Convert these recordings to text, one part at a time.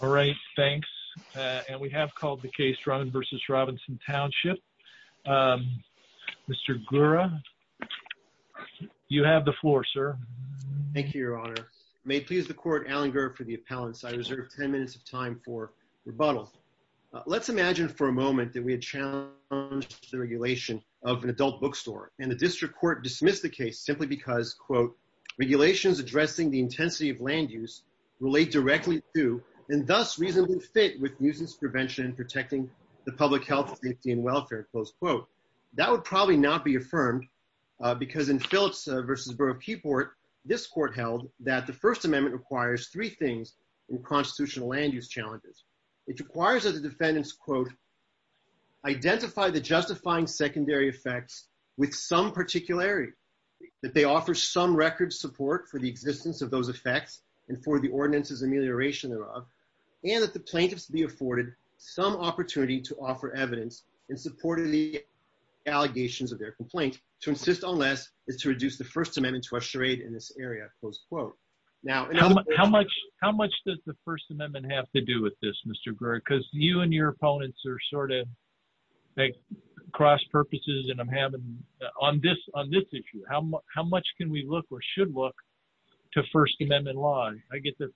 All right, thanks. And we have called the case Drummond v. Robinson Township. Mr. Gura, you have the floor, sir. Thank you, your honor. May it please the court, Alan Gura for the appellants. I reserve 10 minutes of time for rebuttal. Let's imagine for a moment that we had challenged the regulation of an adult bookstore, and the district court dismissed the case simply because, quote, regulations addressing the intensity of land use relate directly to, and thus reasonably fit with, nuisance prevention and protecting the public health, safety, and welfare, close quote. That would probably not be affirmed because in Phillips v. Borough of Keyport, this court held that the First Amendment requires three things in constitutional land use challenges. It requires that the defendants, quote, identify the justifying secondary effects with some particularity, that they offer some record support for the existence of those effects and for the ordinance's amelioration thereof, and that the plaintiffs be afforded some opportunity to offer evidence in support of the allegations of their complaint, to insist on less is to reduce the First Amendment to a charade in this area, close quote. Now, how much does the First Amendment have to do with this, Mr. Gura? Because you and your opponents are sort of cross purposes, and I'm having, on this issue, how much can we look or should look to First Amendment law? I get the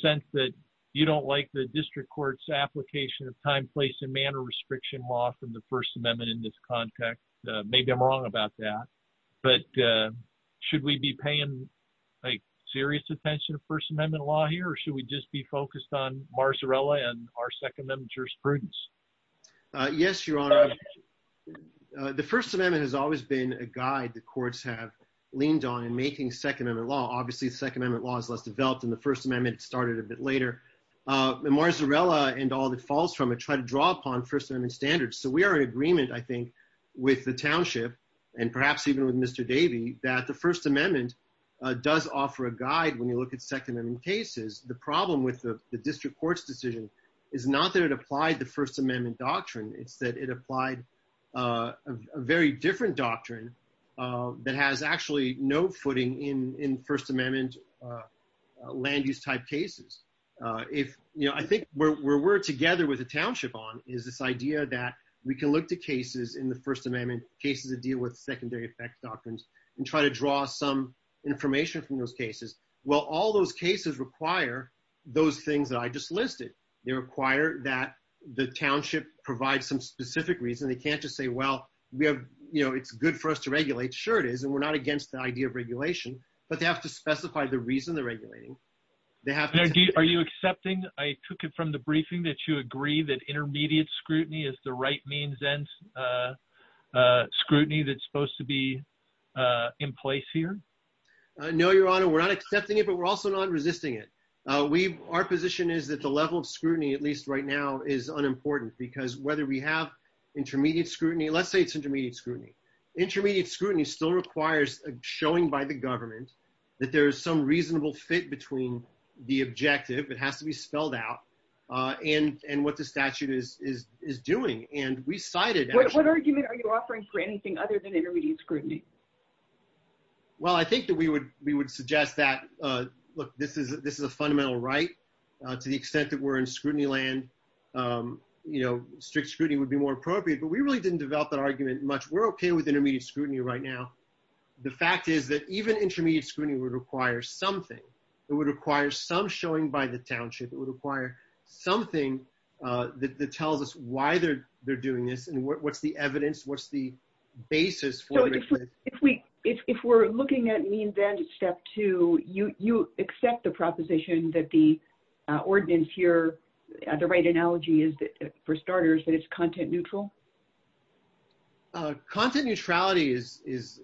sense that you don't like the district court's application of time, place, and manner restriction law from the First Amendment in this context. Maybe I'm wrong about that, but should we be paying, like, serious attention to First Amendment law here, or should we just be focused on Marzarella and our Second Amendment jurisprudence? Yes, Your Honor. The First Amendment has always been a guide the district courts have leaned on in making Second Amendment law. Obviously, Second Amendment law is less developed than the First Amendment. It started a bit later. Marzarella and all that falls from it try to draw upon First Amendment standards. So we are in agreement, I think, with the township, and perhaps even with Mr. Davey, that the First Amendment does offer a guide when you look at Second Amendment cases. The problem with the district court's decision is not that it applied the First Amendment doctrine. It's that it applied a very different doctrine that has actually no footing in First Amendment land use type cases. I think where we're together with the township on is this idea that we can look to cases in the First Amendment, cases that deal with secondary effect doctrines, and try to draw some information from those cases. Well, all those cases require those things that I just listed. They require that the township provide some specific reason. They can't just say, well, it's good for us to regulate. Sure, it is. And we're not against the idea of regulation. But they have to specify the reason they're regulating. Are you accepting, I took it from the briefing, that you agree that intermediate scrutiny is the right means and scrutiny that's supposed to be in place here? No, Your Honor, we're not accepting it, but we're also not resisting it. Our position is that the whether we have intermediate scrutiny, let's say it's intermediate scrutiny. Intermediate scrutiny still requires a showing by the government that there is some reasonable fit between the objective, it has to be spelled out, and what the statute is doing. And we cited... What argument are you offering for anything other than intermediate scrutiny? Well, I think that we would suggest that, look, this is a fundamental right, to the extent that in scrutiny land, strict scrutiny would be more appropriate. But we really didn't develop that argument much. We're okay with intermediate scrutiny right now. The fact is that even intermediate scrutiny would require something. It would require some showing by the township, it would require something that tells us why they're doing this and what's the evidence, what's the basis for it. So if we're looking at means and step two, you accept the proposition that the ordinance here, the right analogy is, for starters, that it's content neutral? Content neutrality is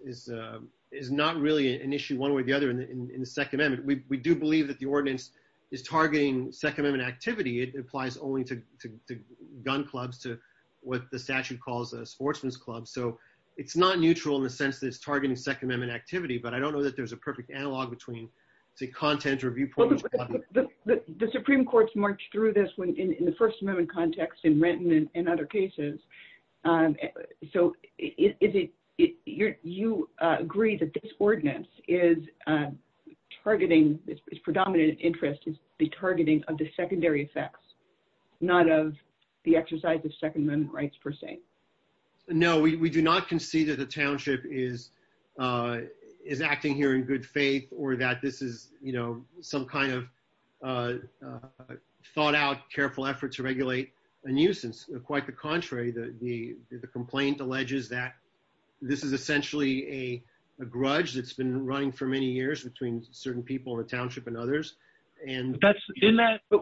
not really an issue one way or the other in the Second Amendment. We do believe that the ordinance is targeting Second Amendment activity. It applies only to gun clubs, to what the statute calls a sportsman's club. So it's not neutral in the sense that it's targeting Second Amendment activity, but I don't know that there's a perfect analog between, say, content or viewpoints. The Supreme Court's marched through this in the First Amendment context in Renton and other cases. So you agree that this ordinance is targeting, its predominant interest is the targeting of the secondary effects, not of the exercise of Second Amendment rights per se? No, we do not concede that the township is acting here in good faith or that this is some kind of thought-out, careful effort to regulate a nuisance. Quite the contrary. The complaint alleges that this is essentially a grudge that's been running for many years between certain people in the township and others. But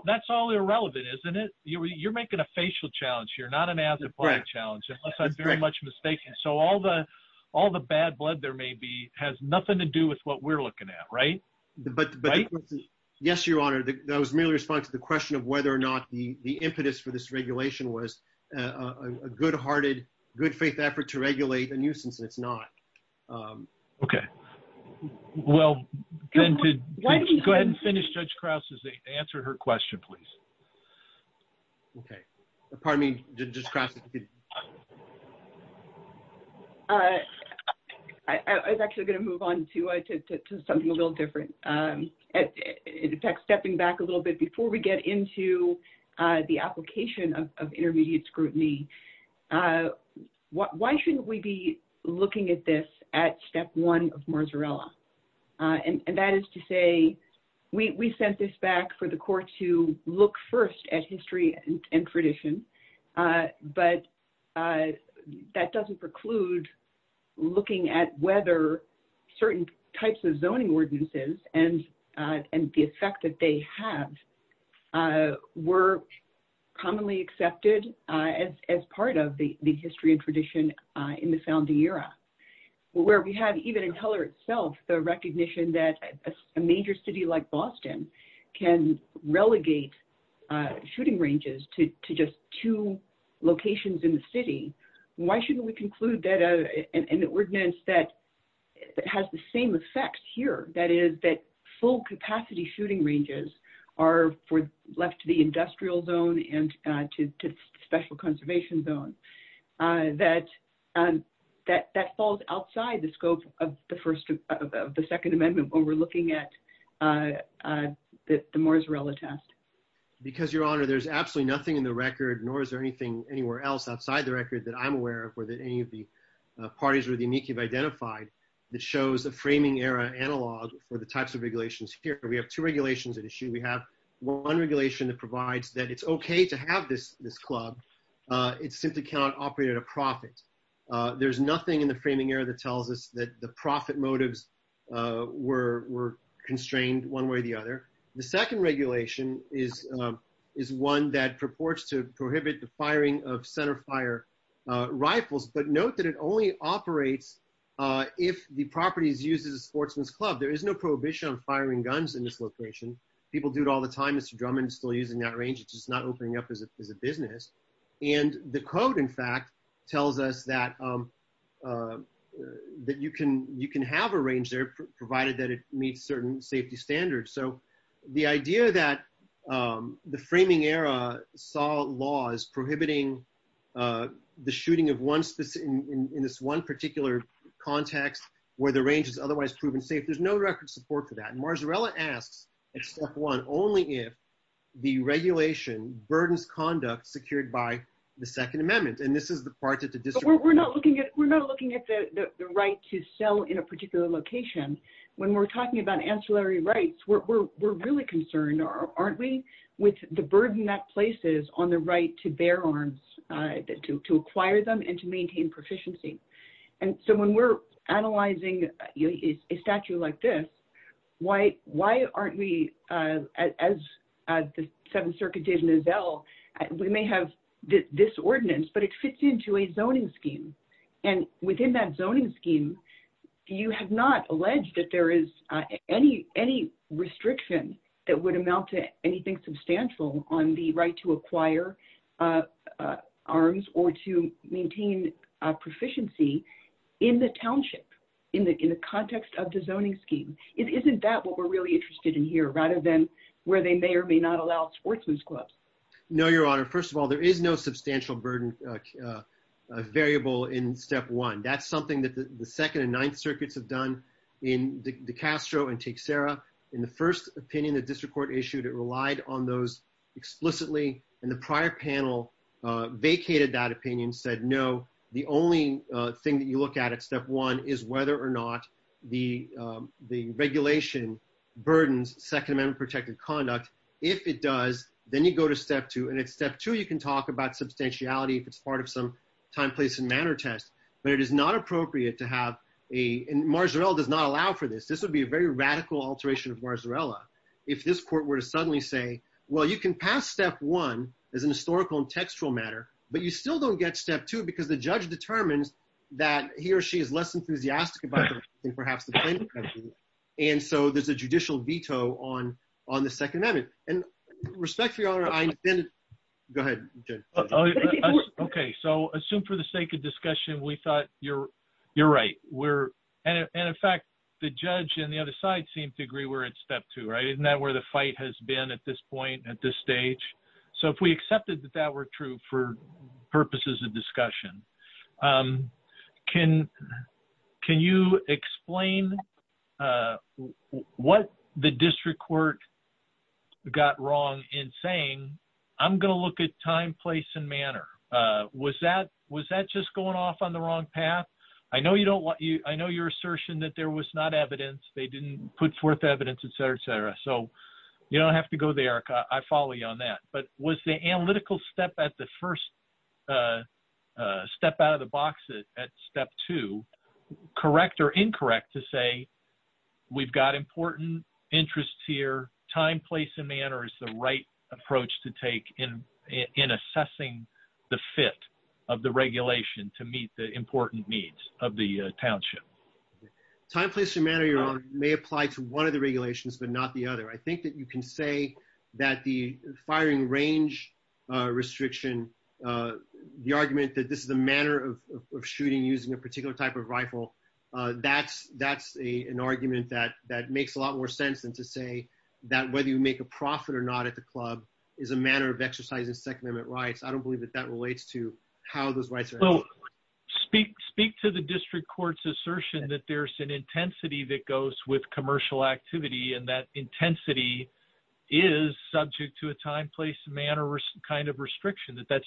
that's all irrelevant, isn't it? You're making a facial challenge here, not an ad-lib challenge, unless I'm very much mistaken. So all the bad blood there may be has nothing to do with what we're looking at, right? Yes, Your Honor. That was merely a response to the question of whether or not the impetus for this regulation was a good-hearted, good-faith effort to regulate a nuisance, and it's not. Okay. Go ahead and finish Judge Krause's answer to her question, please. Okay. Pardon me, Judge Krause. I was actually going to move on to something a little different. In fact, stepping back a little bit, before we get into the application of intermediate scrutiny, why shouldn't we be looking at this at step one of Marzarella? And that is to say, we sent this back for the court to look first at history and tradition, but that doesn't preclude looking at whether certain types of zoning ordinances and the effect that they have were commonly accepted as part of the history and tradition in the founding era. Where we have, even in Heller itself, the recognition that a major city like Boston can relegate shooting ranges to just two locations in the city, why shouldn't we conclude that an ordinance that has the same effects here, that is, that full-capacity shooting ranges are left to industrial zone and to special conservation zone, that falls outside the scope of the Second Amendment when we're looking at the Marzarella test? Because, Your Honor, there's absolutely nothing in the record, nor is there anything anywhere else outside the record that I'm aware of or that any of the parties or the amici have identified that shows a framing era analog for the types of regulations here. We have two regulations at issue. We have one regulation that provides that it's okay to have this club, it simply cannot operate at a profit. There's nothing in the framing era that tells us that the profit motives were constrained one way or the other. The second regulation is one that purports to prohibit the firing of centerfire rifles, but note that it only operates if the property is used as a sportsman's club. There is no prohibition on firing guns in this location. People do it all the time. Mr. Drummond is still using that range, it's just not opening up as a business. And the code, in fact, tells us that you can have a range there provided that it meets certain safety standards. So the idea that the framing era saw laws prohibiting the shooting in this one particular context where the range is otherwise proven safe, there's no record support for that. And Marzarella asks at step one, only if the regulation burdens conduct secured by the second amendment. And this is the part that the district- We're not looking at the right to sell in a particular location. When we're talking about to bear arms, to acquire them and to maintain proficiency. And so when we're analyzing a statue like this, why aren't we, as the Seventh Circuit did in Nizel, we may have this ordinance, but it fits into a zoning scheme. And within that zoning scheme, you have not alleged that there is any restriction that would amount to anything substantial on the right to acquire arms or to maintain proficiency in the township, in the context of the zoning scheme. Isn't that what we're really interested in here rather than where they may or may not allow sportsman's clubs? No, Your Honor. First of all, there is no substantial burden variable in step one. That's something that the Second and Ninth Circuits have done in DeCastro and Teixeira. In the first opinion, the district court issued, it relied on those explicitly and the prior panel vacated that opinion, said, no, the only thing that you look at at step one is whether or not the regulation burdens second amendment protected conduct. If it does, then you go to step two and at step two, you can talk about substantiality. If it's part of some time, place and manner test, but it is not appropriate to have a- And Marjarelle does allow for this. This would be a very radical alteration of Marjarelle. If this court were to suddenly say, well, you can pass step one as an historical and textual matter, but you still don't get step two because the judge determines that he or she is less enthusiastic about it than perhaps the plaintiff. And so there's a judicial veto on the second amendment and respect for your honor, go ahead. Okay. So assume for the sake of discussion, we thought you're right. And in fact, the judge and the other side seemed to agree where it's step two, right? Isn't that where the fight has been at this point at this stage? So if we accepted that that were true for purposes of discussion, can you explain what the district court got wrong in saying, I'm going to look at time, place and manner. Was that just going off on the wrong path? I know your assertion that there was not evidence, they didn't put forth evidence, et cetera, et cetera. So you don't have to go there. I follow you on that. But was the analytical step at the first step out of the box at step two, correct or incorrect to say, we've got important interests here, time, place and manner is the right approach to take in assessing the fit of the regulation to meet the important needs of the township. Time, place and manner may apply to one of the regulations, but not the other. I think that you can say that the firing range restriction, the argument that this is a manner of shooting using a particular type of rifle. That's an argument that makes a lot more sense than to say that whether you make a profit or not at the club is a manner of exercising second amendment rights. I believe that that relates to how those rights are. Speak to the district court's assertion that there's an intensity that goes with commercial activity and that intensity is subject to a time, place and manner kind of restriction that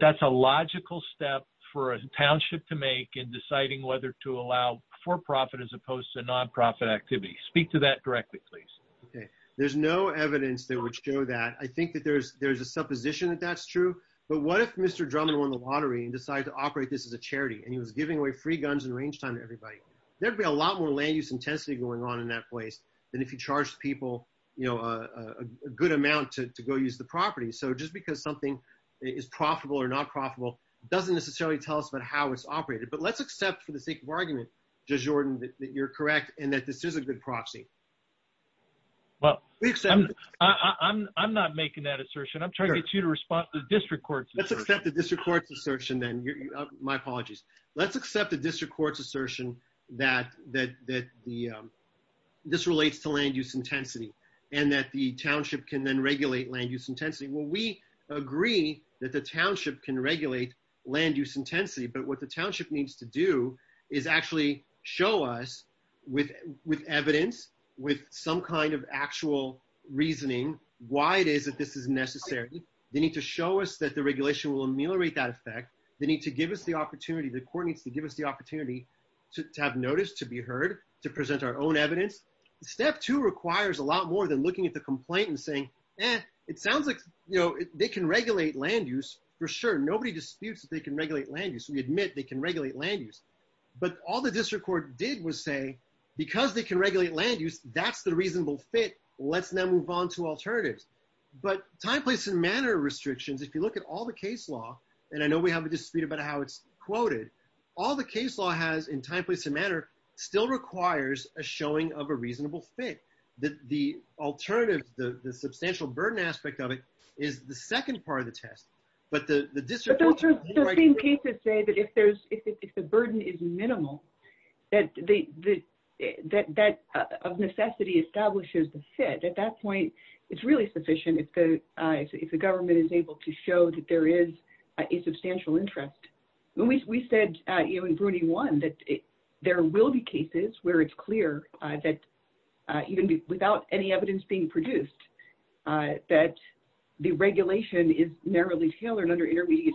that's a logical step for a township to make in deciding whether to allow for profit as opposed to nonprofit activity. Speak to that directly, please. Okay. There's no evidence that would show that. I think that there's a supposition that that's true, but what if Mr. Drummond won the lottery and decided to operate this as a charity and he was giving away free guns and range time to everybody? There'd be a lot more land use intensity going on in that place than if you charged people, you know, a good amount to go use the property. So just because something is profitable or not profitable doesn't necessarily tell us about how it's operated, but let's accept for the sake of argument, Judge Jordan, that you're correct and that this is a good proxy. Well, I'm not making that assertion. I'm trying to get you to respond to the district court's assertion. Let's accept the district court's assertion then. My apologies. Let's accept the district court's assertion that this relates to land use intensity and that the township can then regulate land use intensity. Well, we agree that the township can regulate land use intensity, but what the township needs to do is actually show us with evidence, with some kind of actual reasoning, why it is that this is necessary. They need to show us that the regulation will ameliorate that effect. They need to give us the opportunity, the court needs to give us the opportunity to have notice, to be heard, to present our own evidence. Step two requires a lot more than looking at the complaint and saying, eh, it sounds like, you know, they can regulate land use for sure. Nobody disputes that they can regulate land use. We admit they can land use. That's the reasonable fit. Let's now move on to alternatives. But time, place, and manner restrictions, if you look at all the case law, and I know we have a dispute about how it's quoted, all the case law has in time, place, and manner still requires a showing of a reasonable fit. The alternatives, the substantial burden aspect of it is the second part of the test. But the district... But those same cases say that if the burden is minimal, that of necessity establishes the fit. At that point, it's really sufficient if the government is able to show that there is a substantial interest. We said, you know, in Broody 1, that there will be cases where it's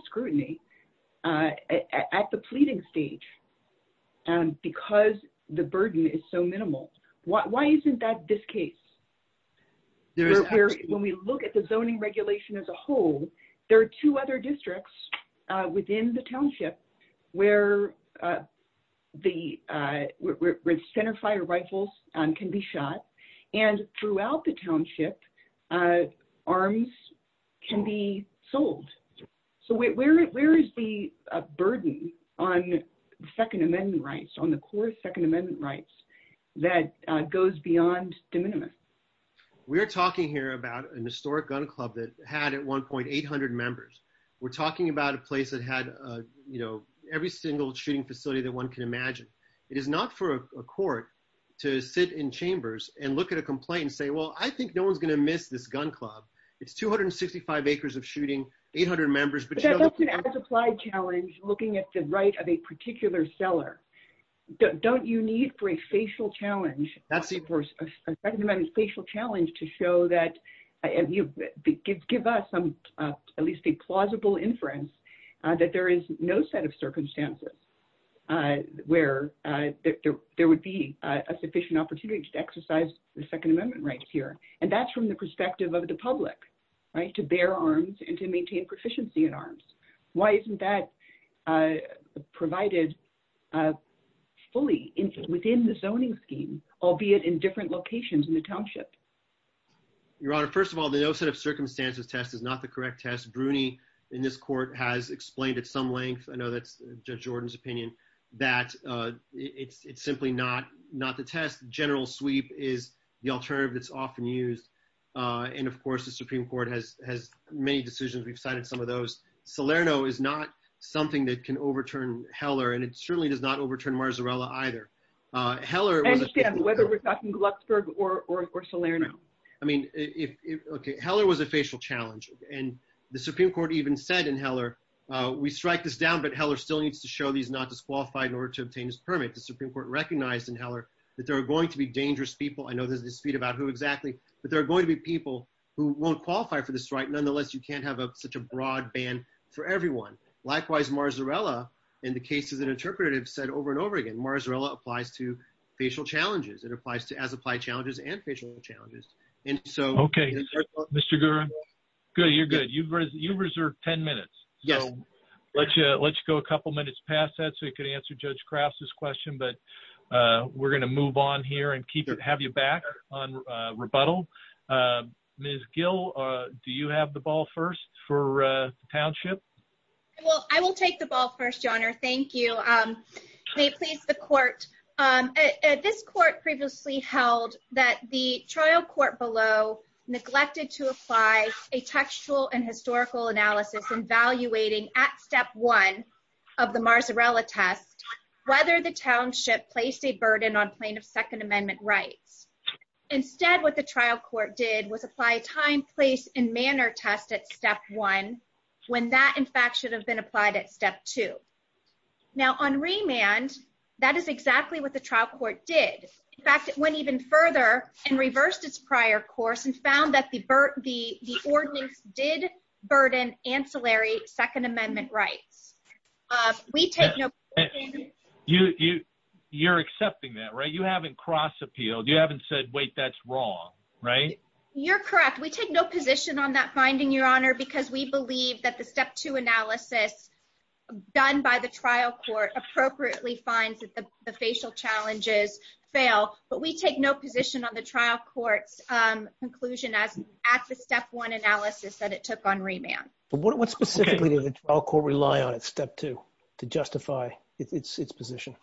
scrutiny at the pleading stage because the burden is so minimal. Why isn't that this case? When we look at the zoning regulation as a whole, there are two other districts within the township where the center fire rifles can be shot. And throughout the township, arms can be sold. So where is the burden on the Second Amendment rights, on the core Second Amendment rights, that goes beyond de minimis? We're talking here about an historic gun club that had at one point 800 members. We're talking about a place that had, you know, every single shooting facility that one can imagine. It is not for a court to sit in chambers and look at a complaint and say, well, I think no one's going to miss this gun club. It's 265 acres of shooting, 800 members. But that's an as-applied challenge, looking at the right of a particular seller. Don't you need for a facial challenge, a Second Amendment facial challenge to show that, give us at least a plausible inference that there is no set of circumstances where there would be a sufficient opportunity to exercise the Second Amendment rights here? And that's from the perspective of the public, right, to bear arms and to maintain proficiency in arms. Why isn't that provided fully within the zoning scheme, albeit in different locations in the township? Your Honor, first of all, the no set of circumstances test is not the correct test. Bruni in this court has explained at some length, I know that's Judge Jordan's opinion, that it's simply not the test. General sweep is the alternative that's often used. And of course, the Supreme Court has made decisions, we've cited some of those. Salerno is not something that can overturn Heller, and it certainly does not overturn Marzarella either. Heller was- I understand, whether we're talking Glucksburg or Salerno. I mean, okay, Heller was a facial challenge. And the Supreme Court even said in Heller, we strike this down, but Heller still needs to show he's not disqualified in order to obtain his permit. The Supreme Court recognized in Heller, that there are going to be dangerous people. I know there's a dispute about who exactly, but there are going to be people who won't qualify for the strike. Nonetheless, you can't have such a broad ban for everyone. Likewise, Marzarella, in the case as an interpretive said over and over again, applies to facial challenges. It applies to as applied challenges and facial challenges. And so- Okay. Mr. Guerra, good. You're good. You've reserved 10 minutes. So let's go a couple minutes past that so we could answer Judge Kraft's question, but we're going to move on here and have you back on rebuttal. Ms. Gill, do you have the ball first for the township? Well, I will take the ball first, Your Honor. Thank you. May it please the court. This court previously held that the trial court below neglected to apply a textual and historical analysis in evaluating at step one of the Marzarella test, whether the township placed a burden on plaintiff's Second Amendment rights. Instead, what the trial court did was apply time, place, and manner test at step one, when that, in fact, should have been applied at step two. Now on remand, that is exactly what the trial court did. In fact, it went even further and reversed its prior course and found that the ordinance did burden ancillary Second Amendment rights. We take no- You're accepting that, right? You haven't cross appealed. You haven't said, wait, that's wrong, right? You're correct. We take no position on that finding, Your Honor, because we believe that the step two analysis done by the trial court appropriately finds that the facial challenges fail, but we take no position on the trial court's conclusion at the step one analysis that it took on remand. But what specifically did the trial court rely on at its position?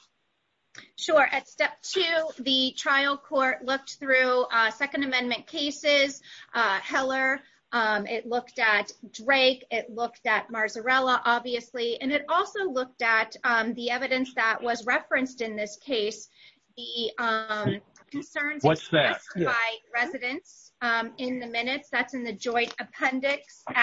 Sure. At step two, the trial court looked through Second Amendment cases, Heller, it looked at Drake, it looked at Marzarella, obviously, and it also looked at the evidence that was referenced in this case, the concerns- What's that? of the joint appendix. Okay.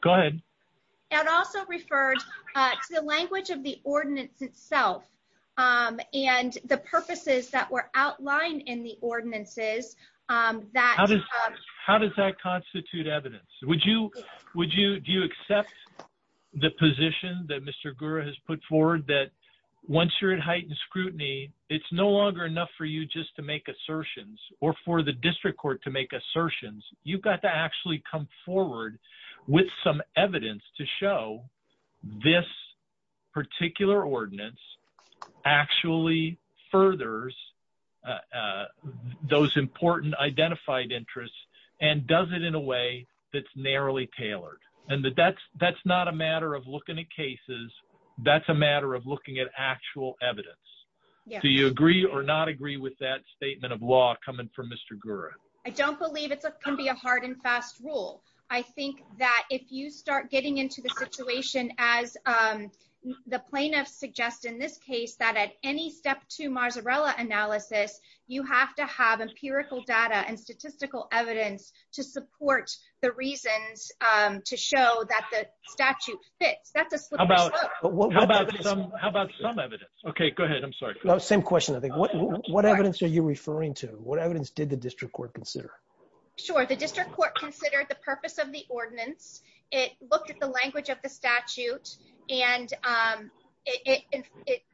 Go ahead. It also referred to the language of the ordinance itself and the purposes that were outlined in the ordinances that- How does that constitute evidence? Do you accept the position that Mr. Gura has put forward that once you're at heightened or for the district court to make assertions, you've got to actually come forward with some evidence to show this particular ordinance actually furthers those important identified interests and does it in a way that's narrowly tailored? And that that's not a matter of looking at cases, that's a matter of looking at actual evidence. Do you agree or not agree with that statement of law coming from Mr. Gura? I don't believe it can be a hard and fast rule. I think that if you start getting into the situation as the plaintiffs suggest in this case that at any step two Marzarella analysis, you have to have empirical data and statistical evidence to support the reasons to show that the statute fits. That's a slippery slope. How about some evidence? Okay, what evidence did the district court consider? Sure. The district court considered the purpose of the ordinance. It looked at the language of the statute and it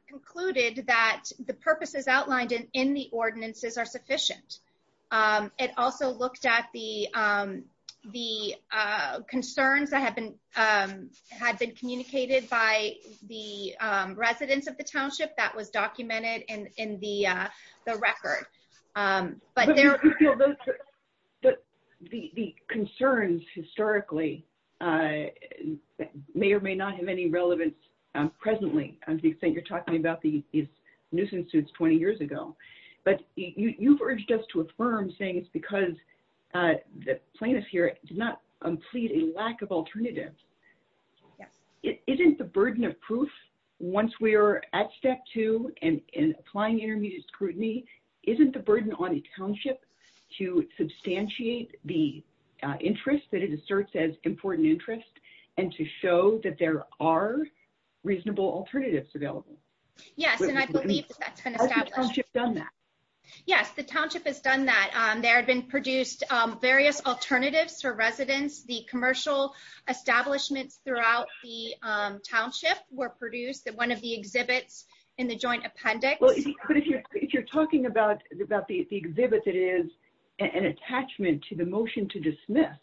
concluded that the purposes outlined in the ordinances are sufficient. It also looked at the concerns that had been communicated by the residents of the township that was documented in the record. The concerns historically may or may not have any relevance presently to the extent you're talking about these nuisance suits 20 years ago. But you've urged us to affirm saying it's because the plaintiff here did not plead a lack of alternatives. It isn't the burden of proof once we are at step two and applying intermediate scrutiny. Isn't the burden on a township to substantiate the interest that it asserts as important interest and to show that there are reasonable alternatives available? Yes, and I believe that's been done that. Yes, the township has done that. There have been produced various alternatives for residents. The commercial establishments throughout the township were produced at one of the exhibits in the joint appendix. But if you're talking about the exhibit that is an attachment to the motion to dismiss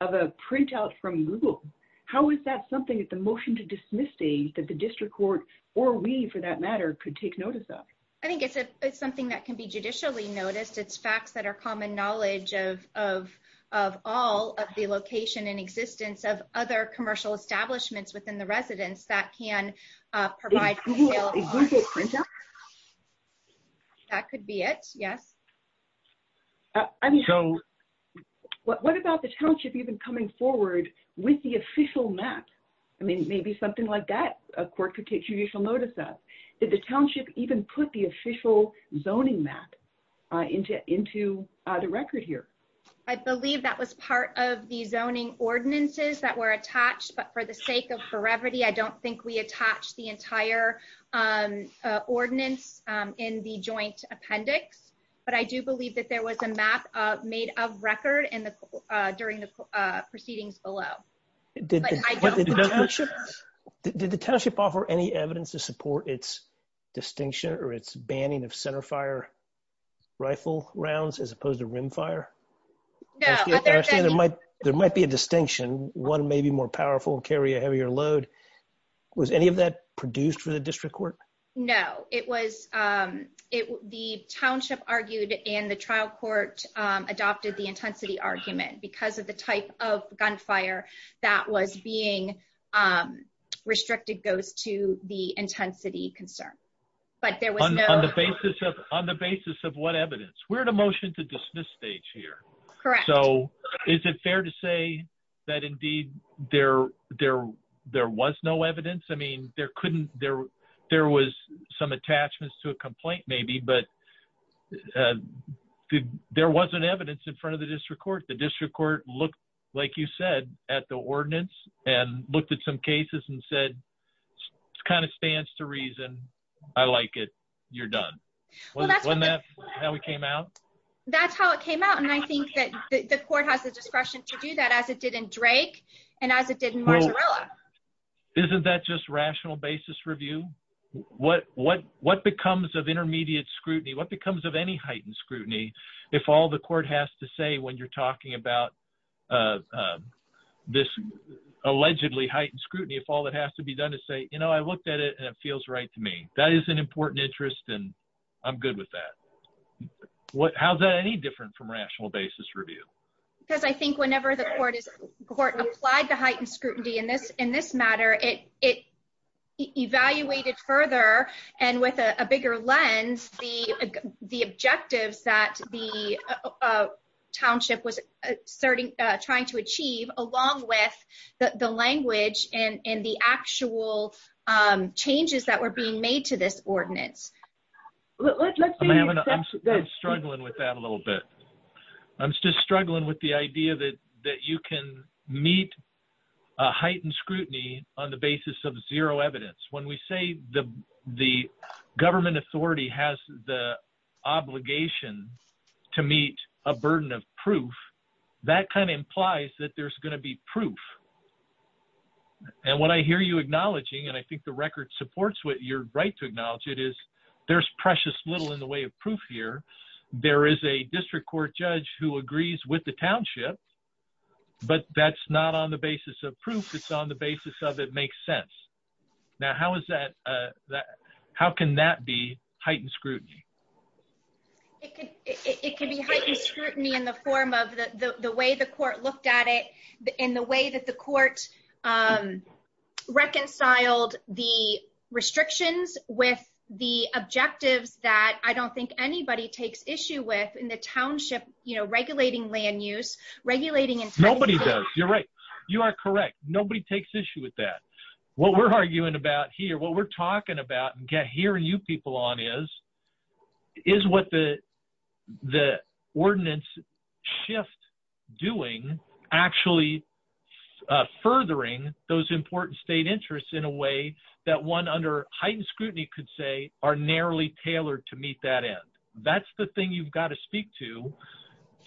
of a printout from Google, how is that something at the motion to dismiss stage that the district court or we for that matter could take notice of? I think it's something that can be judicially noticed. It's facts that are common knowledge of all of the location and existence of other commercial establishments within the residence that can provide. That could be it, yes. What about the township even coming forward with the official map? I mean, maybe something like that a court could take judicial notice of. Did the township even put the official zoning map into the record here? I believe that was part of the zoning ordinances that were attached. But for the sake of brevity, I don't think we attached the entire ordinance in the joint appendix. But I do believe that there was a map made of record during the proceedings below. Did the township offer any evidence to support its distinction or its banning of centerfire rifle rounds as opposed to rimfire? There might be a distinction. One may be more powerful, carry a heavier load. Was any of that produced for the district court? No. The township argued and the trial court adopted the intensity argument because of the type of gunfire that was being heard. On the basis of what evidence? We're at a motion to dismiss stage here. Is it fair to say that indeed there was no evidence? I mean, there was some attachments to a complaint maybe, but there wasn't evidence in front of the district court. The district court looked, like you said, at the ordinance and looked at some cases and said, kind of stands to reason. I like it. You're done. Wasn't that how it came out? That's how it came out. And I think that the court has the discretion to do that as it did in Drake and as it did in Marzarella. Isn't that just rational basis review? What becomes of intermediate scrutiny? What becomes of any heightened scrutiny if all the court has to say when you're talking about this allegedly heightened scrutiny, if all that has to be done is say, you know, I looked at it and it feels right to me. That is an important interest and I'm good with that. How is that any different from rational basis review? Because I think whenever the court applied the heightened scrutiny in this matter, it evaluated further and with a bigger lens the objectives that the township was trying to achieve along with the language and the actual changes that were being made to this ordinance. I'm struggling with that a little bit. I'm just struggling with the idea that you can meet a heightened scrutiny on the basis of zero evidence. When we say the government authority has the obligation to meet a burden of proof, that kind of implies that there's going to be proof. And what I hear you acknowledging and I think the record supports what you're right to acknowledge it is there's precious little in the way of proof here. There is a district court judge who agrees with the township, but that's not on the basis of proof. It's on the basis of it makes sense. Now how can that be heightened scrutiny? It could be heightened scrutiny in the form of the way the court looked at it and the way that the court reconciled the restrictions with the objectives that I don't think anybody takes issue with in the township, you know, regulating land use. Nobody does. You're right. You are correct. Nobody takes issue with that. What we're arguing about here, what we're talking about and hearing you people on is, is what the ordinance shift doing actually furthering those important state interests in a way that one under heightened scrutiny could say are narrowly tailored to meet that end. That's the thing you've got to speak to.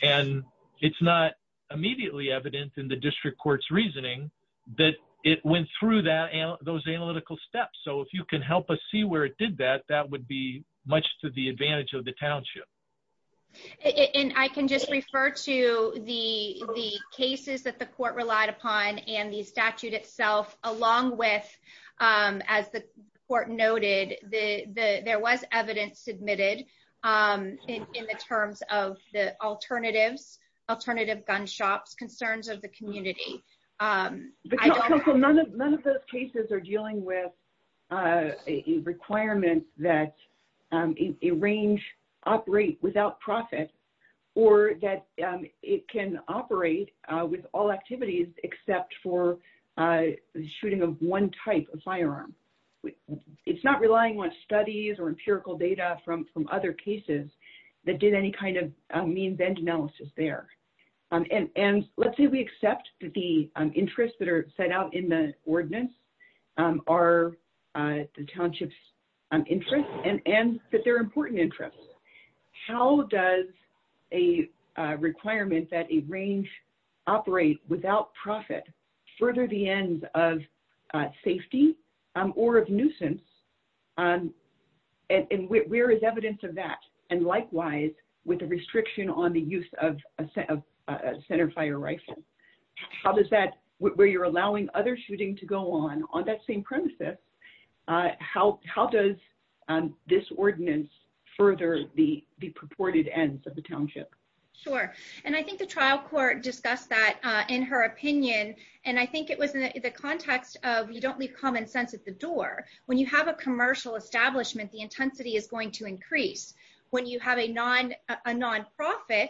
And it's not immediately evident in the district court's reasoning that it went through that, those analytical steps. So if you can help us see where it did that, that would be much to the advantage of the township. And I can just refer to the cases that the court relied upon and the statute itself, along with, as the court noted, the, there was evidence submitted in the terms of the alternatives, alternative gun shops, concerns of the community. None of those cases are dealing with a requirement that a range operate without profit or that it can operate with all activities except for shooting of one type of firearm. It's not relying on studies or empirical data from other cases that did any kind of means end analysis there. And let's say we accept that the interests that are set out in the ordinance are the township's interests and that they're important interests. How does a requirement that a range operate without profit further the ends of safety or of nuisance? And where is evidence of that? And likewise, with the restriction on the use of centerfire rifles. How does that, where you're allowing other shooting to go on, on that same premises, how does this ordinance further the purported ends of the township? Sure. And I think the trial court discussed that in her opinion. And I think it was in the context of, you don't leave common sense at the door. When you have a commercial establishment, the intensity is going to increase. When you have a non, a nonprofit,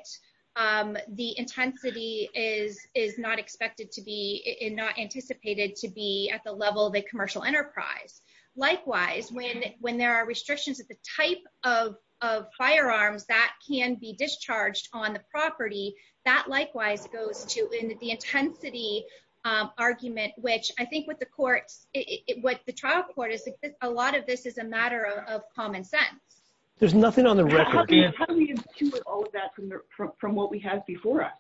the intensity is, is not expected to be in, not anticipated to be at the level of a commercial enterprise. Likewise, when, when there are restrictions at the type of, of firearms that can be discharged on the property, that likewise goes to the intensity argument, which I think what the courts, what the trial court is, a lot of this is a matter of common sense. There's nothing on the record. How do we intuit all of that from what we have before us?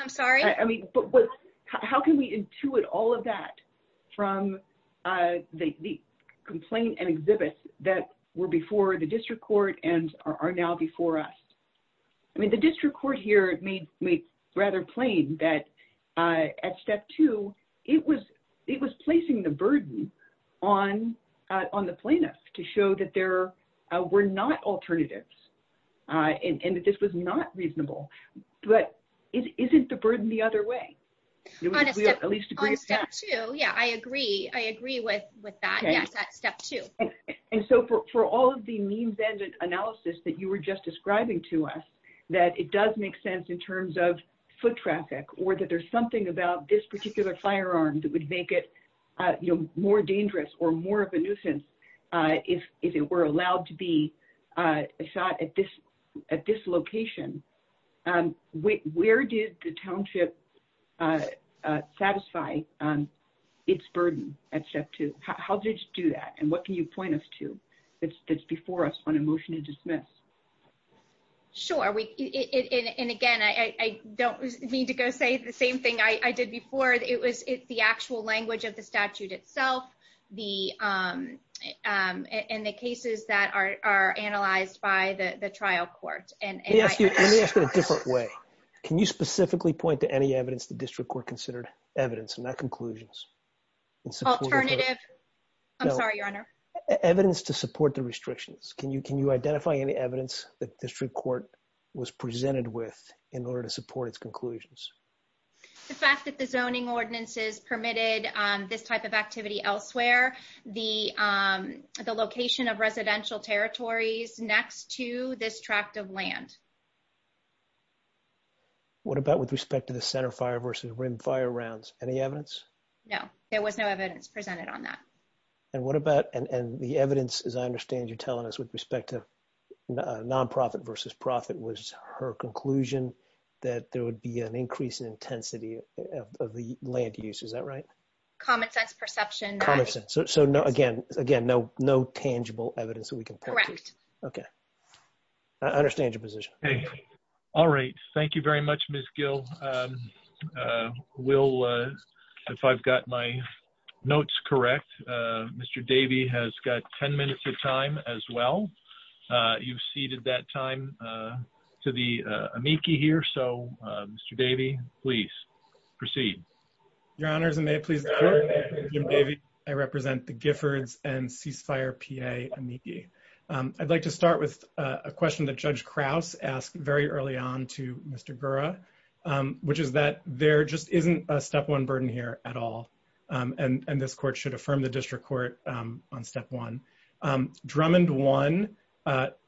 I'm sorry? I mean, how can we intuit all of that from the complaint and exhibits that were before the district court and are now before us? I mean, the district court here, it made, made rather plain that at step two, it was, it was placing the burden on, on the plaintiffs to show that there were not alternatives and that this was not reasonable, but it isn't the burden the other way. On step two, yeah, I agree. I agree with, with that. Yes, at step two. And so for, for all of the means ended analysis that you were just describing to us, that it does make sense in terms of foot traffic, or that there's something about this particular firearm that would make it more dangerous or more of a nuisance. If, if it were allowed to be shot at this, at this location, where did the township satisfy its burden at step two? How did you do that? And what can you point us to that's, that's before us on a motion to dismiss? Sure. We, and again, I don't mean to go say the same thing I did before it was, it's the actual language of the statute itself, the, and the cases that are, are analyzed by the trial court. Let me ask it a different way. Can you specifically point to any evidence the district court considered evidence and not conclusions? Alternative, I'm sorry, your honor. Evidence to support the restrictions. Can you, can you identify any evidence that district court was presented with in order to support its conclusions? The fact that the zoning ordinances permitted this type of activity elsewhere, the, the location of residential territories next to this tract of land. What about with respect to the center fire versus rim fire rounds? Any evidence? No, there was no evidence presented on that. And what about, and the evidence, as I understand, you're telling us with respect to nonprofit versus profit was her conclusion that there would be an increase in intensity of the land use. Is that right? Common sense perception. So no, again, again, no, no tangible evidence that we can correct. Okay. I understand your position. All right. Thank you very much, Ms. Gill. Will, if I've got my notes, correct. Mr. Davey has got 10 minutes of time as well. You've seeded that time to the amici here. So Mr. Davey, please proceed. Your honors and may it please the court. I represent the Giffords and ceasefire PA amici. I'd like to start with a question that judge Krauss asked very early on to Mr. Gura, which is that there just isn't a step one burden here at all. And this court should affirm the district court on step one. Drummond one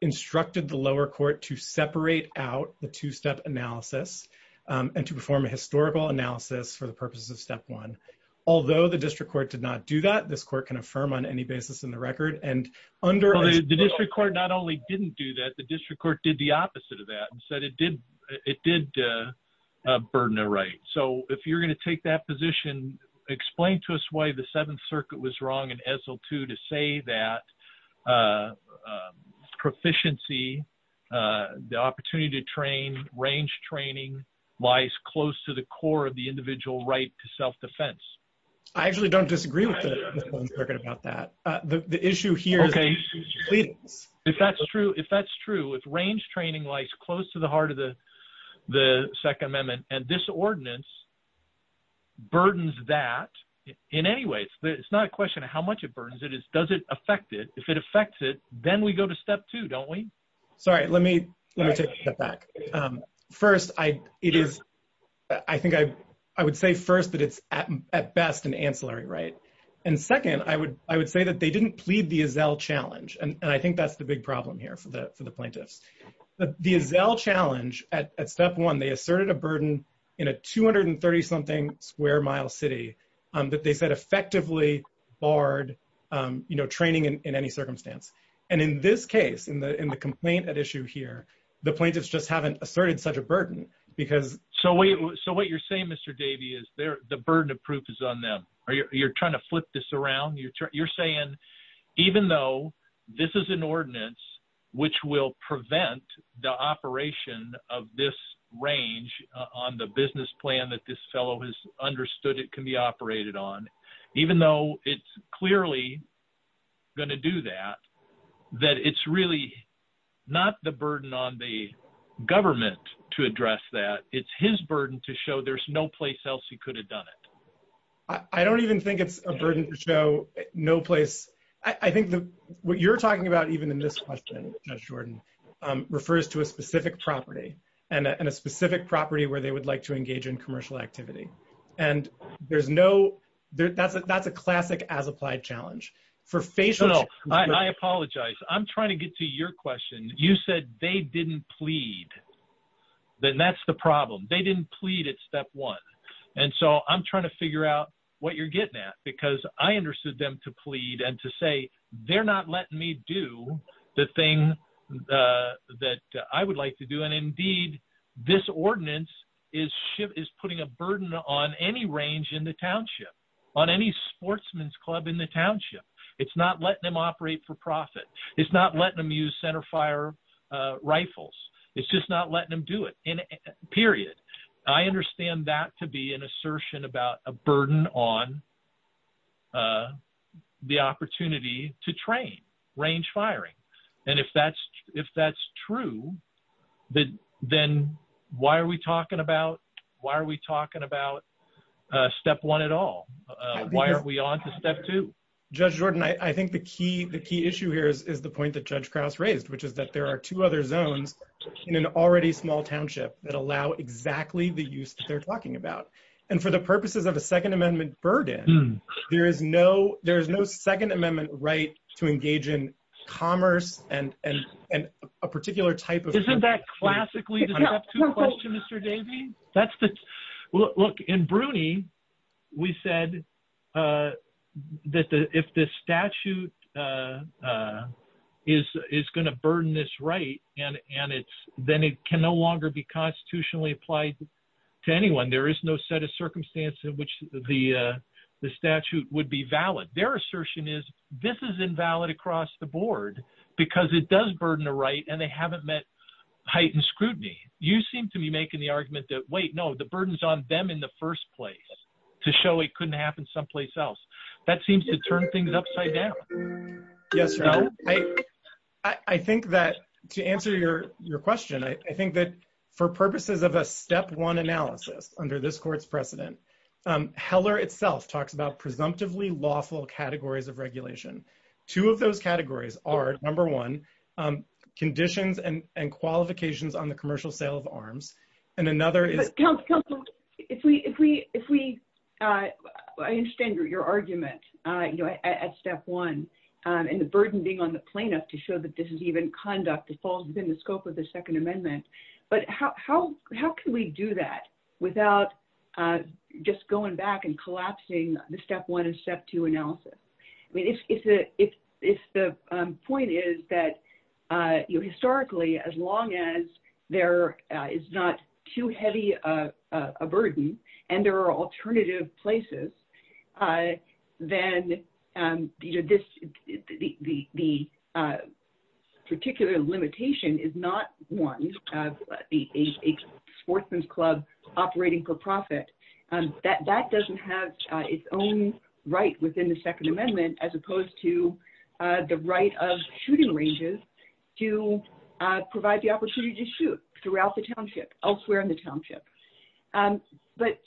instructed the lower court to separate out the two-step analysis and to perform a historical analysis for the purposes of step one. Although the district court did not do that, this court can affirm on any basis in the record. And under the district court, not only didn't do that, the district court did the opposite of that and said it did. It did burn the right. So if you're going to take that position, explain to us why the seventh circuit was wrong. Say that proficiency, the opportunity to train, range training lies close to the core of the individual right to self-defense. I actually don't disagree with the circuit about that. The issue here. If that's true, if that's true, if range training lies close to the heart of the second amendment and this ordinance burdens that in any way, it's not a question of how much it burdens it, it's does it affect it? If it affects it, then we go to step two, don't we? Sorry, let me take a step back. First, I think I would say first that it's at best an ancillary right. And second, I would say that they didn't plead the Azzell challenge. And I think that's the big problem here for the plaintiffs. The Azzell challenge at step one, they asserted a burden in a 230 something square mile city that they said effectively barred training in any circumstance. And in this case, in the complaint at issue here, the plaintiffs just haven't asserted such a burden because. So what you're saying, Mr. Davey, is the burden of proof is on them. You're trying to flip this around. You're saying even though this is an ordinance which will prevent the operation of this range on the business plan that this fellow has understood it can be operated on, even though it's clearly going to do that, that it's really not the burden on the government to address that. It's his burden to show there's no place else he could have done it. I don't even think it's a burden to show no place. I think what you're talking about, even in this question, Judge Jordan, refers to a specific property and a specific property where they would like to engage in commercial activity. And that's a classic as applied challenge. I apologize. I'm trying to get to your question. You said they didn't plead. Then that's the problem. They didn't plead at step one. And so I'm trying to figure out what you're getting at, because I understood them to plead and to say they're not letting me do the thing that I would like to do. And indeed, this ordinance is putting a burden on any range in the township, on any sportsman's club in the township. It's not letting them operate for profit. It's not letting them use center fire rifles. It's just not letting them do it, period. I understand that to be an assertion about a burden on the opportunity to train range firing. And if that's true, then why are we talking about step one at all? Why aren't we on to step two? Judge Jordan, I think the key issue here is the point that Judge Krause raised, which is that there are two other zones in an already small township that allow exactly the use that they're talking about. And for the purposes of a Second Amendment burden, there is no Second Amendment right to engage in commerce and a particular type of- Isn't that classically the step two question, and then it can no longer be constitutionally applied to anyone. There is no set of circumstances in which the statute would be valid. Their assertion is this is invalid across the board because it does burden a right and they haven't met heightened scrutiny. You seem to be making the argument that, wait, no, the burden's on them in the first place to show it couldn't happen someplace else. That seems to turn things upside down. Yes. I think that to answer your question, I think that for purposes of a step one analysis under this court's precedent, Heller itself talks about presumptively lawful categories of regulation. Two of those categories are, number one, conditions and qualifications on the commercial sale of arms. And another is- If we- I understand your argument at step one and the burden being on the plaintiff to show that this is even conduct that falls within the scope of the Second Amendment. But how can we do that without just going back and collapsing the step one and step two analysis? I mean, if the point is that historically, as long as there is not too heavy a burden and there are alternative places, then the particular limitation is not one of a sportsman's club operating for a certain period of time. But there is a limitation on the number of times that a are necessary to make sure that we're getting this right. And, I think that's the point. But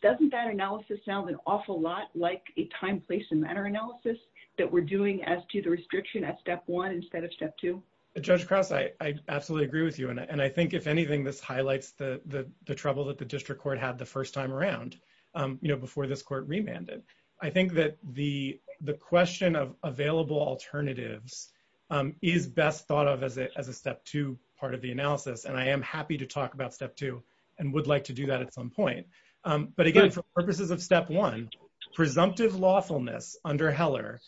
doesn't that analysis sound an awful lot like a time, place, and matter analysis that we're doing as to the restriction at step one instead of step two? Judge Krause, I absolutely agree with you. And I think, if anything, this highlights the trouble that the district court had the first time around before this court remanded. I think that the question of available alternatives is best thought of as a step two part of the analysis. And I am happy to talk about step two and would like to do that at some point. But again, for purposes of step one, presumptive lawfulness under Heller,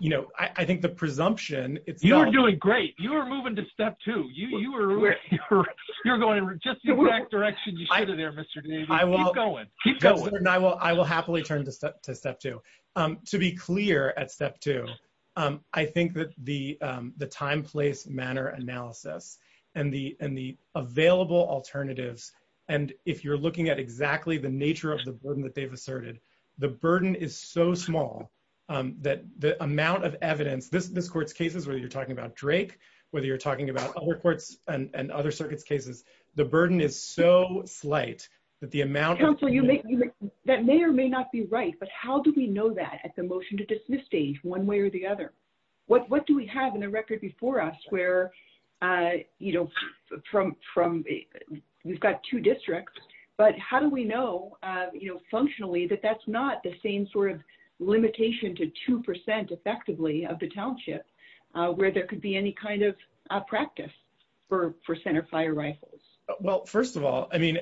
you know, I think the presumption it's not- You're doing great. You're moving to step two. You're going just the exact direction you should have there, Mr. Davis. Keep going. Keep going. I will happily turn to step two. To be clear at step two, I think that the time, place, manner analysis and the available alternatives, and if you're looking at exactly the nature of the burden that they've asserted, the burden is so small that the amount of evidence, this court's cases, whether you're talking about Drake, whether you're talking about other courts and other circuits' cases, the burden is so slight that the amount- Counsel, that may or may not be right, but how do we know that at the motion to dismiss stage one way or the other? What do we have in the record before us where, you know, from- You've got two districts, but how do we know, you know, functionally that that's not the same sort of limitation to two percent effectively of the township where there could be any kind of practice for center fire rifles? Well, first of all, I mean,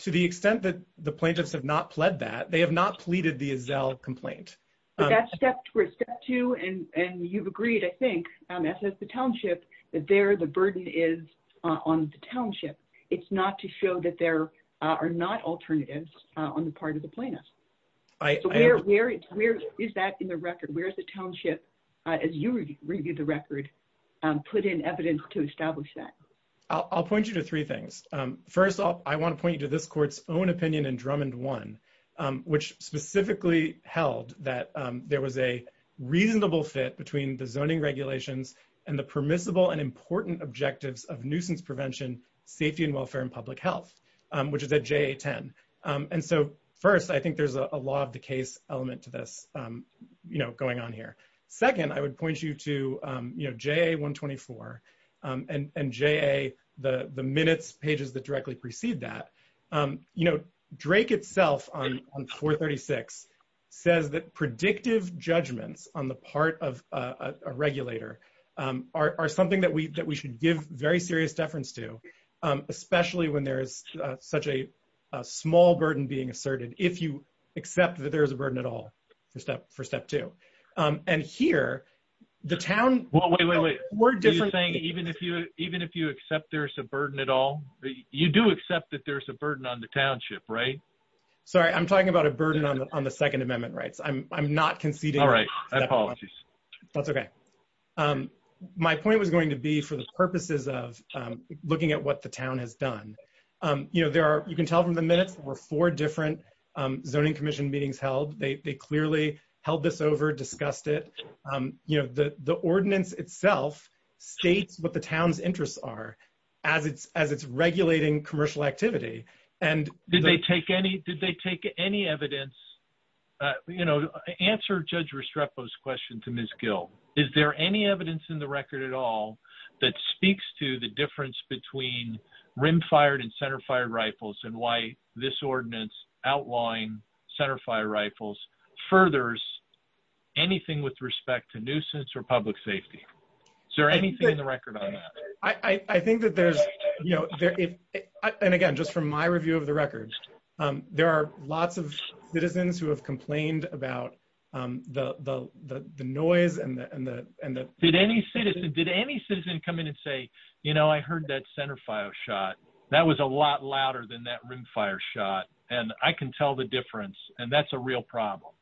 to the extent that the plaintiffs have not pled that, they have not pleaded the Azzell complaint. But that's step two, and you've agreed, I think, as has the township, that there the burden is on the township. It's not to show that there are not alternatives on the part of the plaintiffs. So where is that in the record? Where is the township, as you review the record, put in evidence to establish that? I'll point you to three things. First off, I want to point you to this court's own opinion in Drummond 1, which specifically held that there was a reasonable fit between the zoning regulations and the permissible and important objectives of nuisance prevention, safety and welfare, and public health, which is at JA 10. And so first, I think there's a law of the case element to this, you know, going on here. Second, I would point you to, you know, JA 124 and JA, the minutes, pages that directly precede that. You know, Drake itself on 436 says that predictive judgments on the part of a regulator are something that we should give very serious deference to, especially when there is such a small burden being asserted, if you accept that there is a burden at all. You do accept that there's a burden on the township, right? Sorry, I'm talking about a burden on the Second Amendment rights. I'm not conceding. That's okay. My point was going to be for the purposes of looking at what the town has done. You know, there are, you can tell from the minutes, there were four different zoning commission meetings held. They clearly held this over, discussed it. You know, the ordinance itself states what the town's interests are as it's regulating commercial activity. Did they take any evidence, you know, answer Judge Restrepo's question to Ms. Gill. Is there any evidence in the record at all that speaks to the difference between rim-fired and center-fired rifles and why this ordinance outlawing center-fired rifles furthers anything with respect to nuisance or public safety? Is there anything in the record on that? I think that there's, you know, and again, just from my review of the records, there are lots of citizens who have complained about the noise and the... Did any citizen come in and say, you know, I heard that center-fired shot, that was a lot louder than that rim-fired shot, and I can tell the difference, and that's a real problem.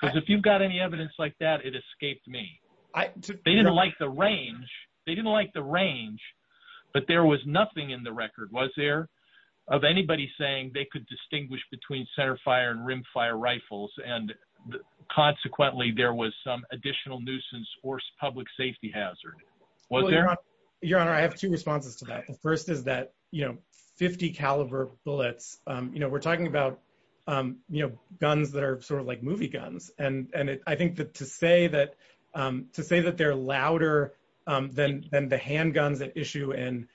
Because if you've got any evidence like that, it escaped me. They didn't like the range. They didn't like the range, but there was nothing in the record, was there, of anybody saying they could distinguish between center-fired and rim-fired was there? Your Honor, I have two responses to that. The first is that, you know, 50 caliber bullets, you know, we're talking about, you know, guns that are sort of like movie guns, and I think that to say that they're louder than the handguns at issue in,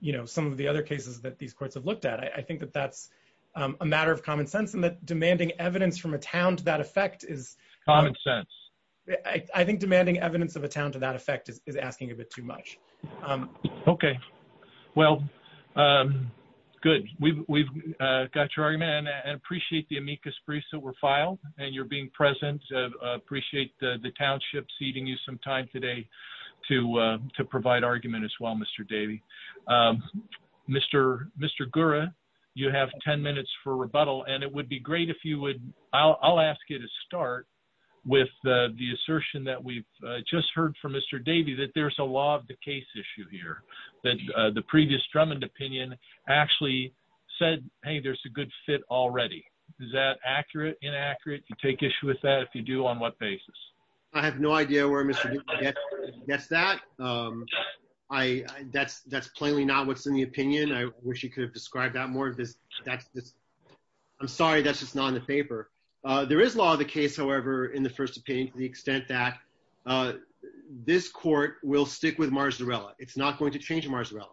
you know, some of the other cases that these courts have looked at, I think that that's a matter of common sense, and that demanding evidence from a town to that effect is... Common sense. I think demanding evidence of a town to that effect is asking a bit too much. Okay. Well, good. We've got your argument, and I appreciate the amicus briefs that were filed, and you're being present. Appreciate the township ceding you some time today to provide argument as well, Mr. Davey. Mr. Gura, you have 10 minutes for rebuttal, and it would be great if you would... I'll ask you to start with the assertion that we've just heard from Mr. Davey that there's a law of the case issue here, that the previous Drummond opinion actually said, hey, there's a good fit already. Is that accurate, inaccurate? You take issue with that? If you do, on what basis? I have no idea where Mr. Gura gets that. That's plainly not what's in the opinion. I wish he could have described that more. I'm sorry, that's just not in the paper. There is law of the case, however, in the First Opinion, to the extent that this court will stick with Marzarella. It's not going to change Marzarella.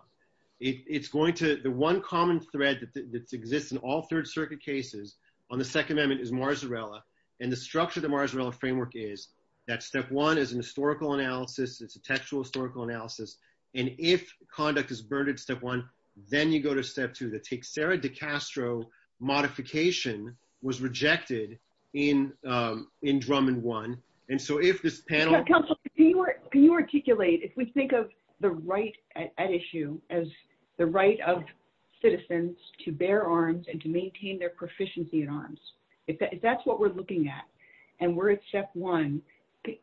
The one common thread that exists in all Third Circuit cases on the Second Amendment is Marzarella, and the structure of the Marzarella framework is that step one is an historical analysis, it's a textual historical analysis, and if conduct is burned at step one, then you go to step two, the Teixeira de Castro modification was rejected in Drummond 1. And so if this panel... Counsel, can you articulate, if we think of the right at issue as the right of citizens to bear arms and to maintain their proficiency at arms, if that's what we're looking at, and we're at step one,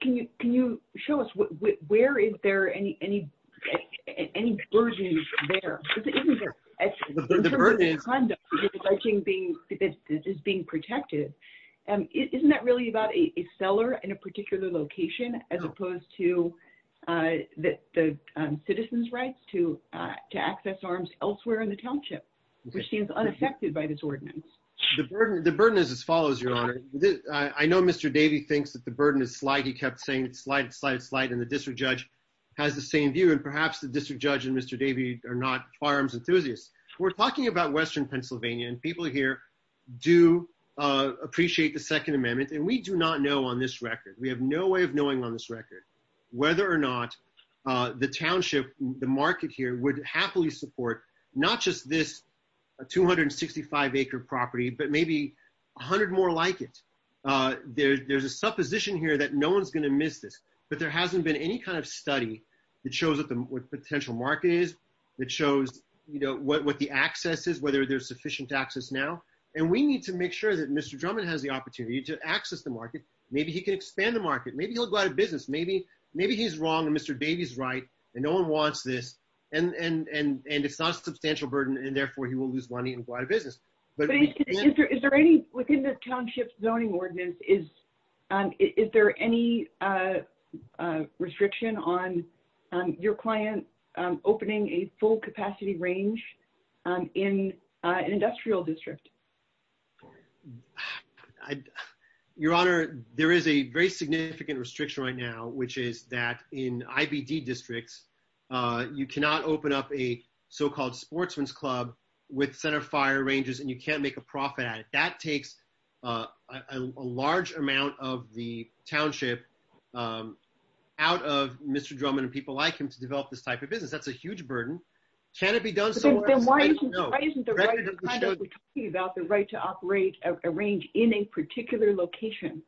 can you show us where is there any burden there? In terms of the conduct that is being protected, isn't that really about a seller in a particular location as opposed to the citizens' rights to access arms elsewhere in the township, which seems unaffected by this ordinance? The burden is as follows, Your Honor. I know Mr. Davey thinks that the burden is slight, he kept saying it's slight, slight, slight, and the district judge has the same view, and perhaps the district judge and Mr. Davey are not firearms enthusiasts. We're talking about Western Pennsylvania, and people here do appreciate the Second Amendment, and we do not know on this record, we have no way of knowing on this record, whether or not the township, the market here, would happily support not just this 265-acre property, but maybe 100 more like it. There's a supposition here that no one's going to miss this, but there hasn't been any kind of study that shows what the potential market is, that shows what the access is, whether there's sufficient access now, and we need to make sure that Mr. Drummond has the opportunity to access the market. Maybe he can expand the market, maybe he'll go out of business, maybe he's wrong and Mr. Davey's right, and no one wants this, and it's not a substantial burden, and therefore, he will lose money and go out of business. But is there any, within the township zoning ordinance, is there any restriction on your client opening a full capacity range in an industrial district? I, your honor, there is a very significant restriction right now, which is that in IBD districts, you cannot open up a so-called sportsman's club with center fire ranges, and you can't make a profit at it. That takes a large amount of the township out of Mr. Drummond and people like him to develop this type of business. That's a huge burden. Can it be done somewhere else? I don't know. Why isn't the right to operate a range in a particular location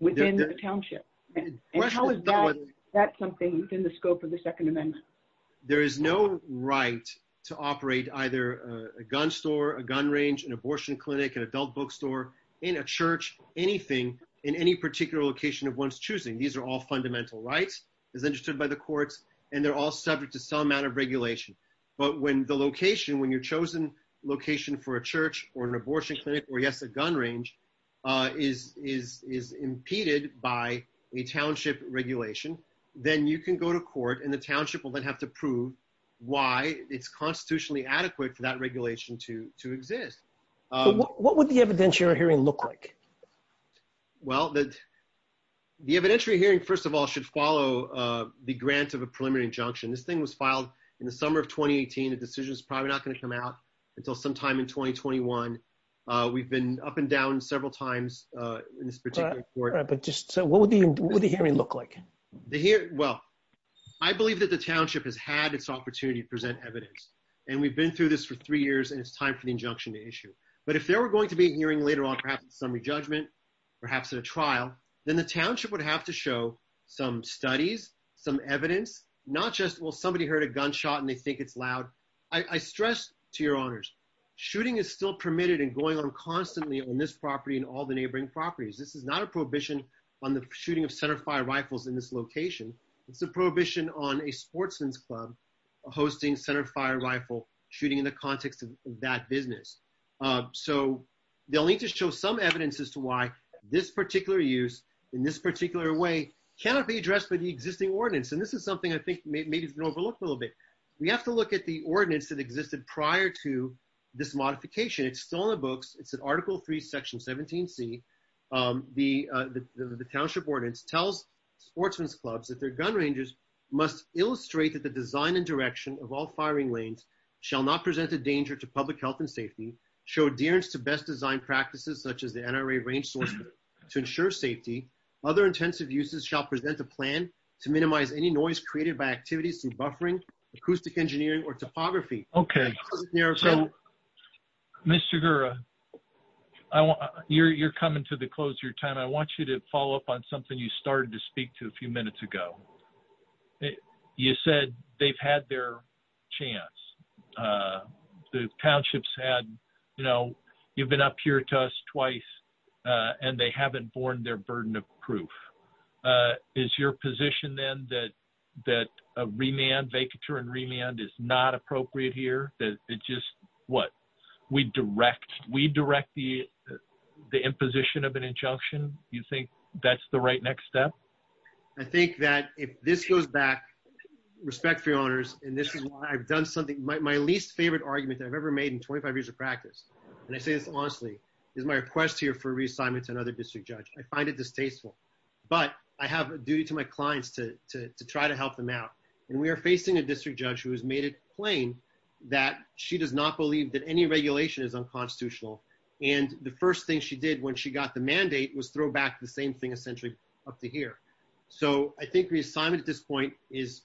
within the township? That's something within the scope of the Second Amendment. There is no right to operate either a gun store, a gun range, an abortion clinic, an adult bookstore, in a church, anything, in any particular location of one's choosing. These are all fundamental rights as understood by the courts, and they're all subject to some amount of regulation. But when the location, when your chosen location for a church or an abortion clinic, or yes, a gun range, is impeded by a township regulation, then you can go to court and the township will then have to prove why it's constitutionally adequate for that regulation to exist. What would the evidentiary hearing look like? Well, the evidentiary hearing, first of all, should follow the grant of a preliminary injunction. This thing was filed in the summer of 2018. The decision is probably not going to come out until sometime in 2021. We've been up and down several times in this particular court. Right, but just, so what would the hearing look like? The hearing, well, I believe that the township has had its opportunity to present evidence, and we've been through this for three years, and it's time for the injunction to issue. But if there were going to be a hearing later on, perhaps in summary judgment, perhaps at a trial, then the township would have to show some studies, some evidence, not just, well, somebody heard a gunshot and they think it's loud. I stress to your honors, shooting is still permitted and going on constantly on this property and all the neighboring properties. This is not a prohibition on the shooting of centerfire rifles in this location. It's a prohibition on a sportsman's club hosting centerfire rifle shooting in the city. So they'll need to show some evidence as to why this particular use in this particular way cannot be addressed by the existing ordinance. And this is something I think maybe it's been overlooked a little bit. We have to look at the ordinance that existed prior to this modification. It's still in the books. It's an article three, section 17C. The township ordinance tells sportsman's clubs that their gun rangers must illustrate that the design and direction of all firing lanes shall not present a danger to public health and safety, show adherence to best design practices such as the NRA range source to ensure safety. Other intensive uses shall present a plan to minimize any noise created by activities through buffering, acoustic engineering, or topography. Okay. Mr. Guerra, you're coming to the close of your time. I want you to follow up on something you started to speak to a few minutes ago. You said they've had their chance. The townships had you've been up here to us twice and they haven't borne their burden of proof. Is your position then that a remand, vacature and remand, is not appropriate here? That it's just, what, we direct the imposition of an injunction? You think that's the right next step? I think that if this goes back, respect for your honors, and this is why I've done something, my least favorite argument that I've ever made in 25 years of practice, and I say this honestly, is my request here for reassignment to another district judge. I find it distasteful, but I have a duty to my clients to try to help them out. And we are facing a district judge who has made it plain that she does not believe that any regulation is unconstitutional. And the first thing she did when she got the mandate was throw back the same thing essentially up to here. So I reassignment at this point is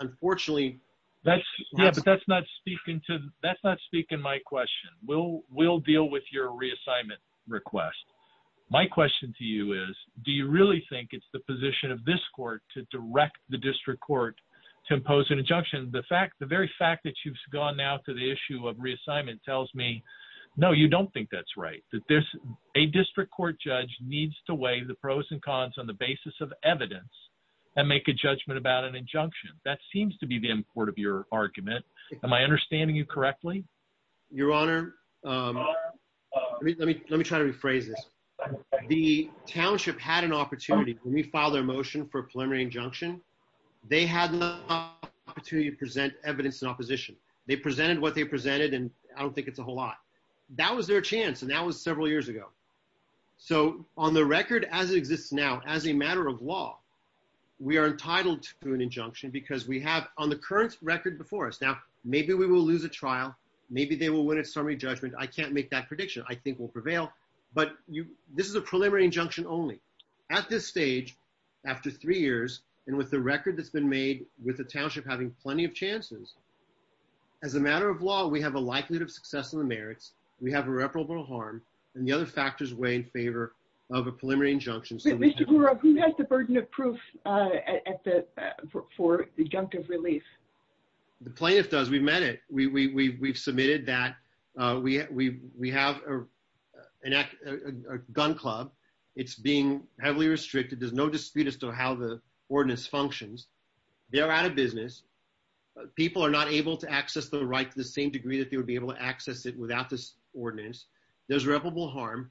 unfortunately... Yeah, but that's not speaking to, that's not speaking to my question. We'll deal with your reassignment request. My question to you is, do you really think it's the position of this court to direct the district court to impose an injunction? The fact, the very fact that you've gone now to the issue of reassignment tells me, no, you don't think that's right. That there's a district court judge needs to weigh the pros and cons on the basis of evidence and make a judgment about an injunction. That seems to be the import of your argument. Am I understanding you correctly? Your honor, let me try to rephrase this. The township had an opportunity when we filed their motion for preliminary injunction, they had an opportunity to present evidence in opposition. They presented what they presented, and I don't think it's a whole lot. That was their chance, and that was several years ago. So on the record as it exists now, as a matter of law, we are entitled to an injunction because we have on the current record before us. Now, maybe we will lose a trial. Maybe they will win a summary judgment. I can't make that prediction. I think we'll prevail, but this is a preliminary injunction only. At this stage, after three years, and with the record that's been made, with the township having plenty of chances, as a matter of law, we have a likelihood of success in the merits. We have irreparable harm, and the other factors weigh in favor of a preliminary injunction. Mr. Gura, who has the burden of proof for the injunctive relief? The plaintiff does. We've met it. We've submitted that. We have a gun club. It's being heavily restricted. There's no dispute as to how the ordinance functions. They are out of business. People are not able to access the right to the same degree that they would be able to access it without this ordinance. There's irreparable harm,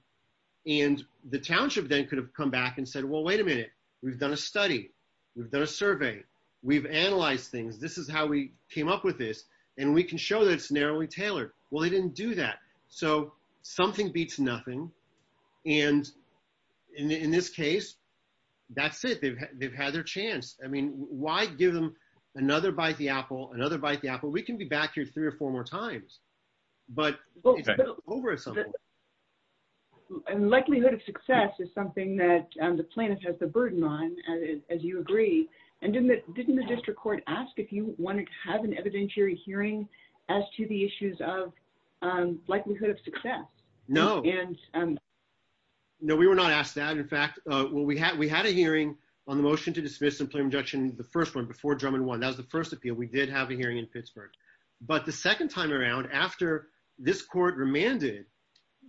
and the township then could have come back and said, well, wait a minute. We've done a study. We've done a survey. We've analyzed things. This is how we came up with this, and we can show that it's narrowly tailored. Well, they didn't do that, so something beats nothing, and in this case, that's it. They've had their chance. I mean, why give them another bite the three or four more times, but it's over at some point. Likelihood of success is something that the plaintiff has the burden on, as you agree, and didn't the district court ask if you wanted to have an evidentiary hearing as to the issues of likelihood of success? No. No, we were not asked that. In fact, we had a hearing on the motion to dismiss and preliminary injunction, the first one that was the first appeal. We did have a hearing in Pittsburgh, but the second time around after this court remanded,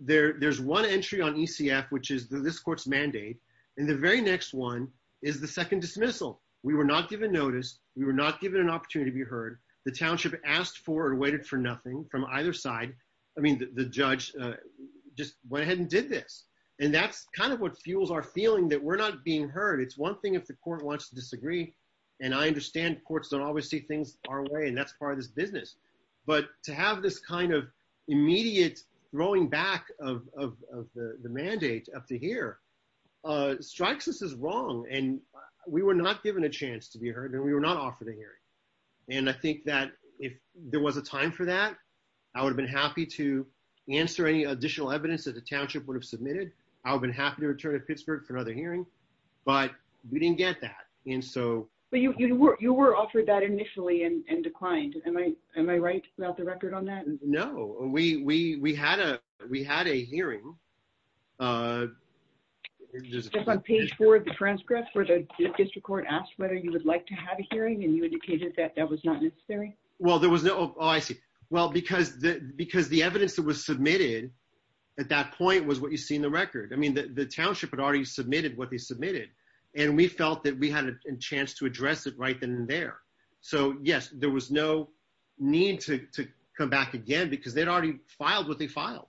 there's one entry on ECF, which is this court's mandate, and the very next one is the second dismissal. We were not given notice. We were not given an opportunity to be heard. The township asked for and waited for nothing from either side. I mean, the judge just went ahead and did this, and that's kind of what fuels our feeling that we're not being heard. It's one thing if the court wants to disagree, and I understand courts don't always see things our way, and that's part of this business, but to have this kind of immediate throwing back of the mandate up to here strikes us as wrong, and we were not given a chance to be heard, and we were not offered a hearing, and I think that if there was a time for that, I would have been happy to answer any additional evidence that the township would have submitted. I would have been happy to return to get that. But you were offered that initially and declined. Am I right about the record on that? No. We had a hearing. Just on page four of the transcript where the district court asked whether you would like to have a hearing, and you indicated that that was not necessary? Well, because the evidence that was submitted at that point was what you see in the record. I mean, the township had already submitted what they submitted, and we felt that we had a chance to address it right then and there. So, yes, there was no need to come back again because they'd already filed what they filed.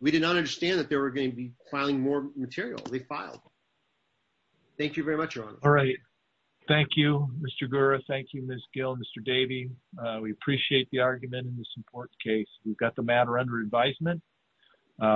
We did not understand that they were going to be filing more material. They filed. Thank you very much, Your Honor. All right. Thank you, Mr. Gura. Thank you, Ms. Gill and Mr. Davey. We appreciate the argument in this important case. We've got the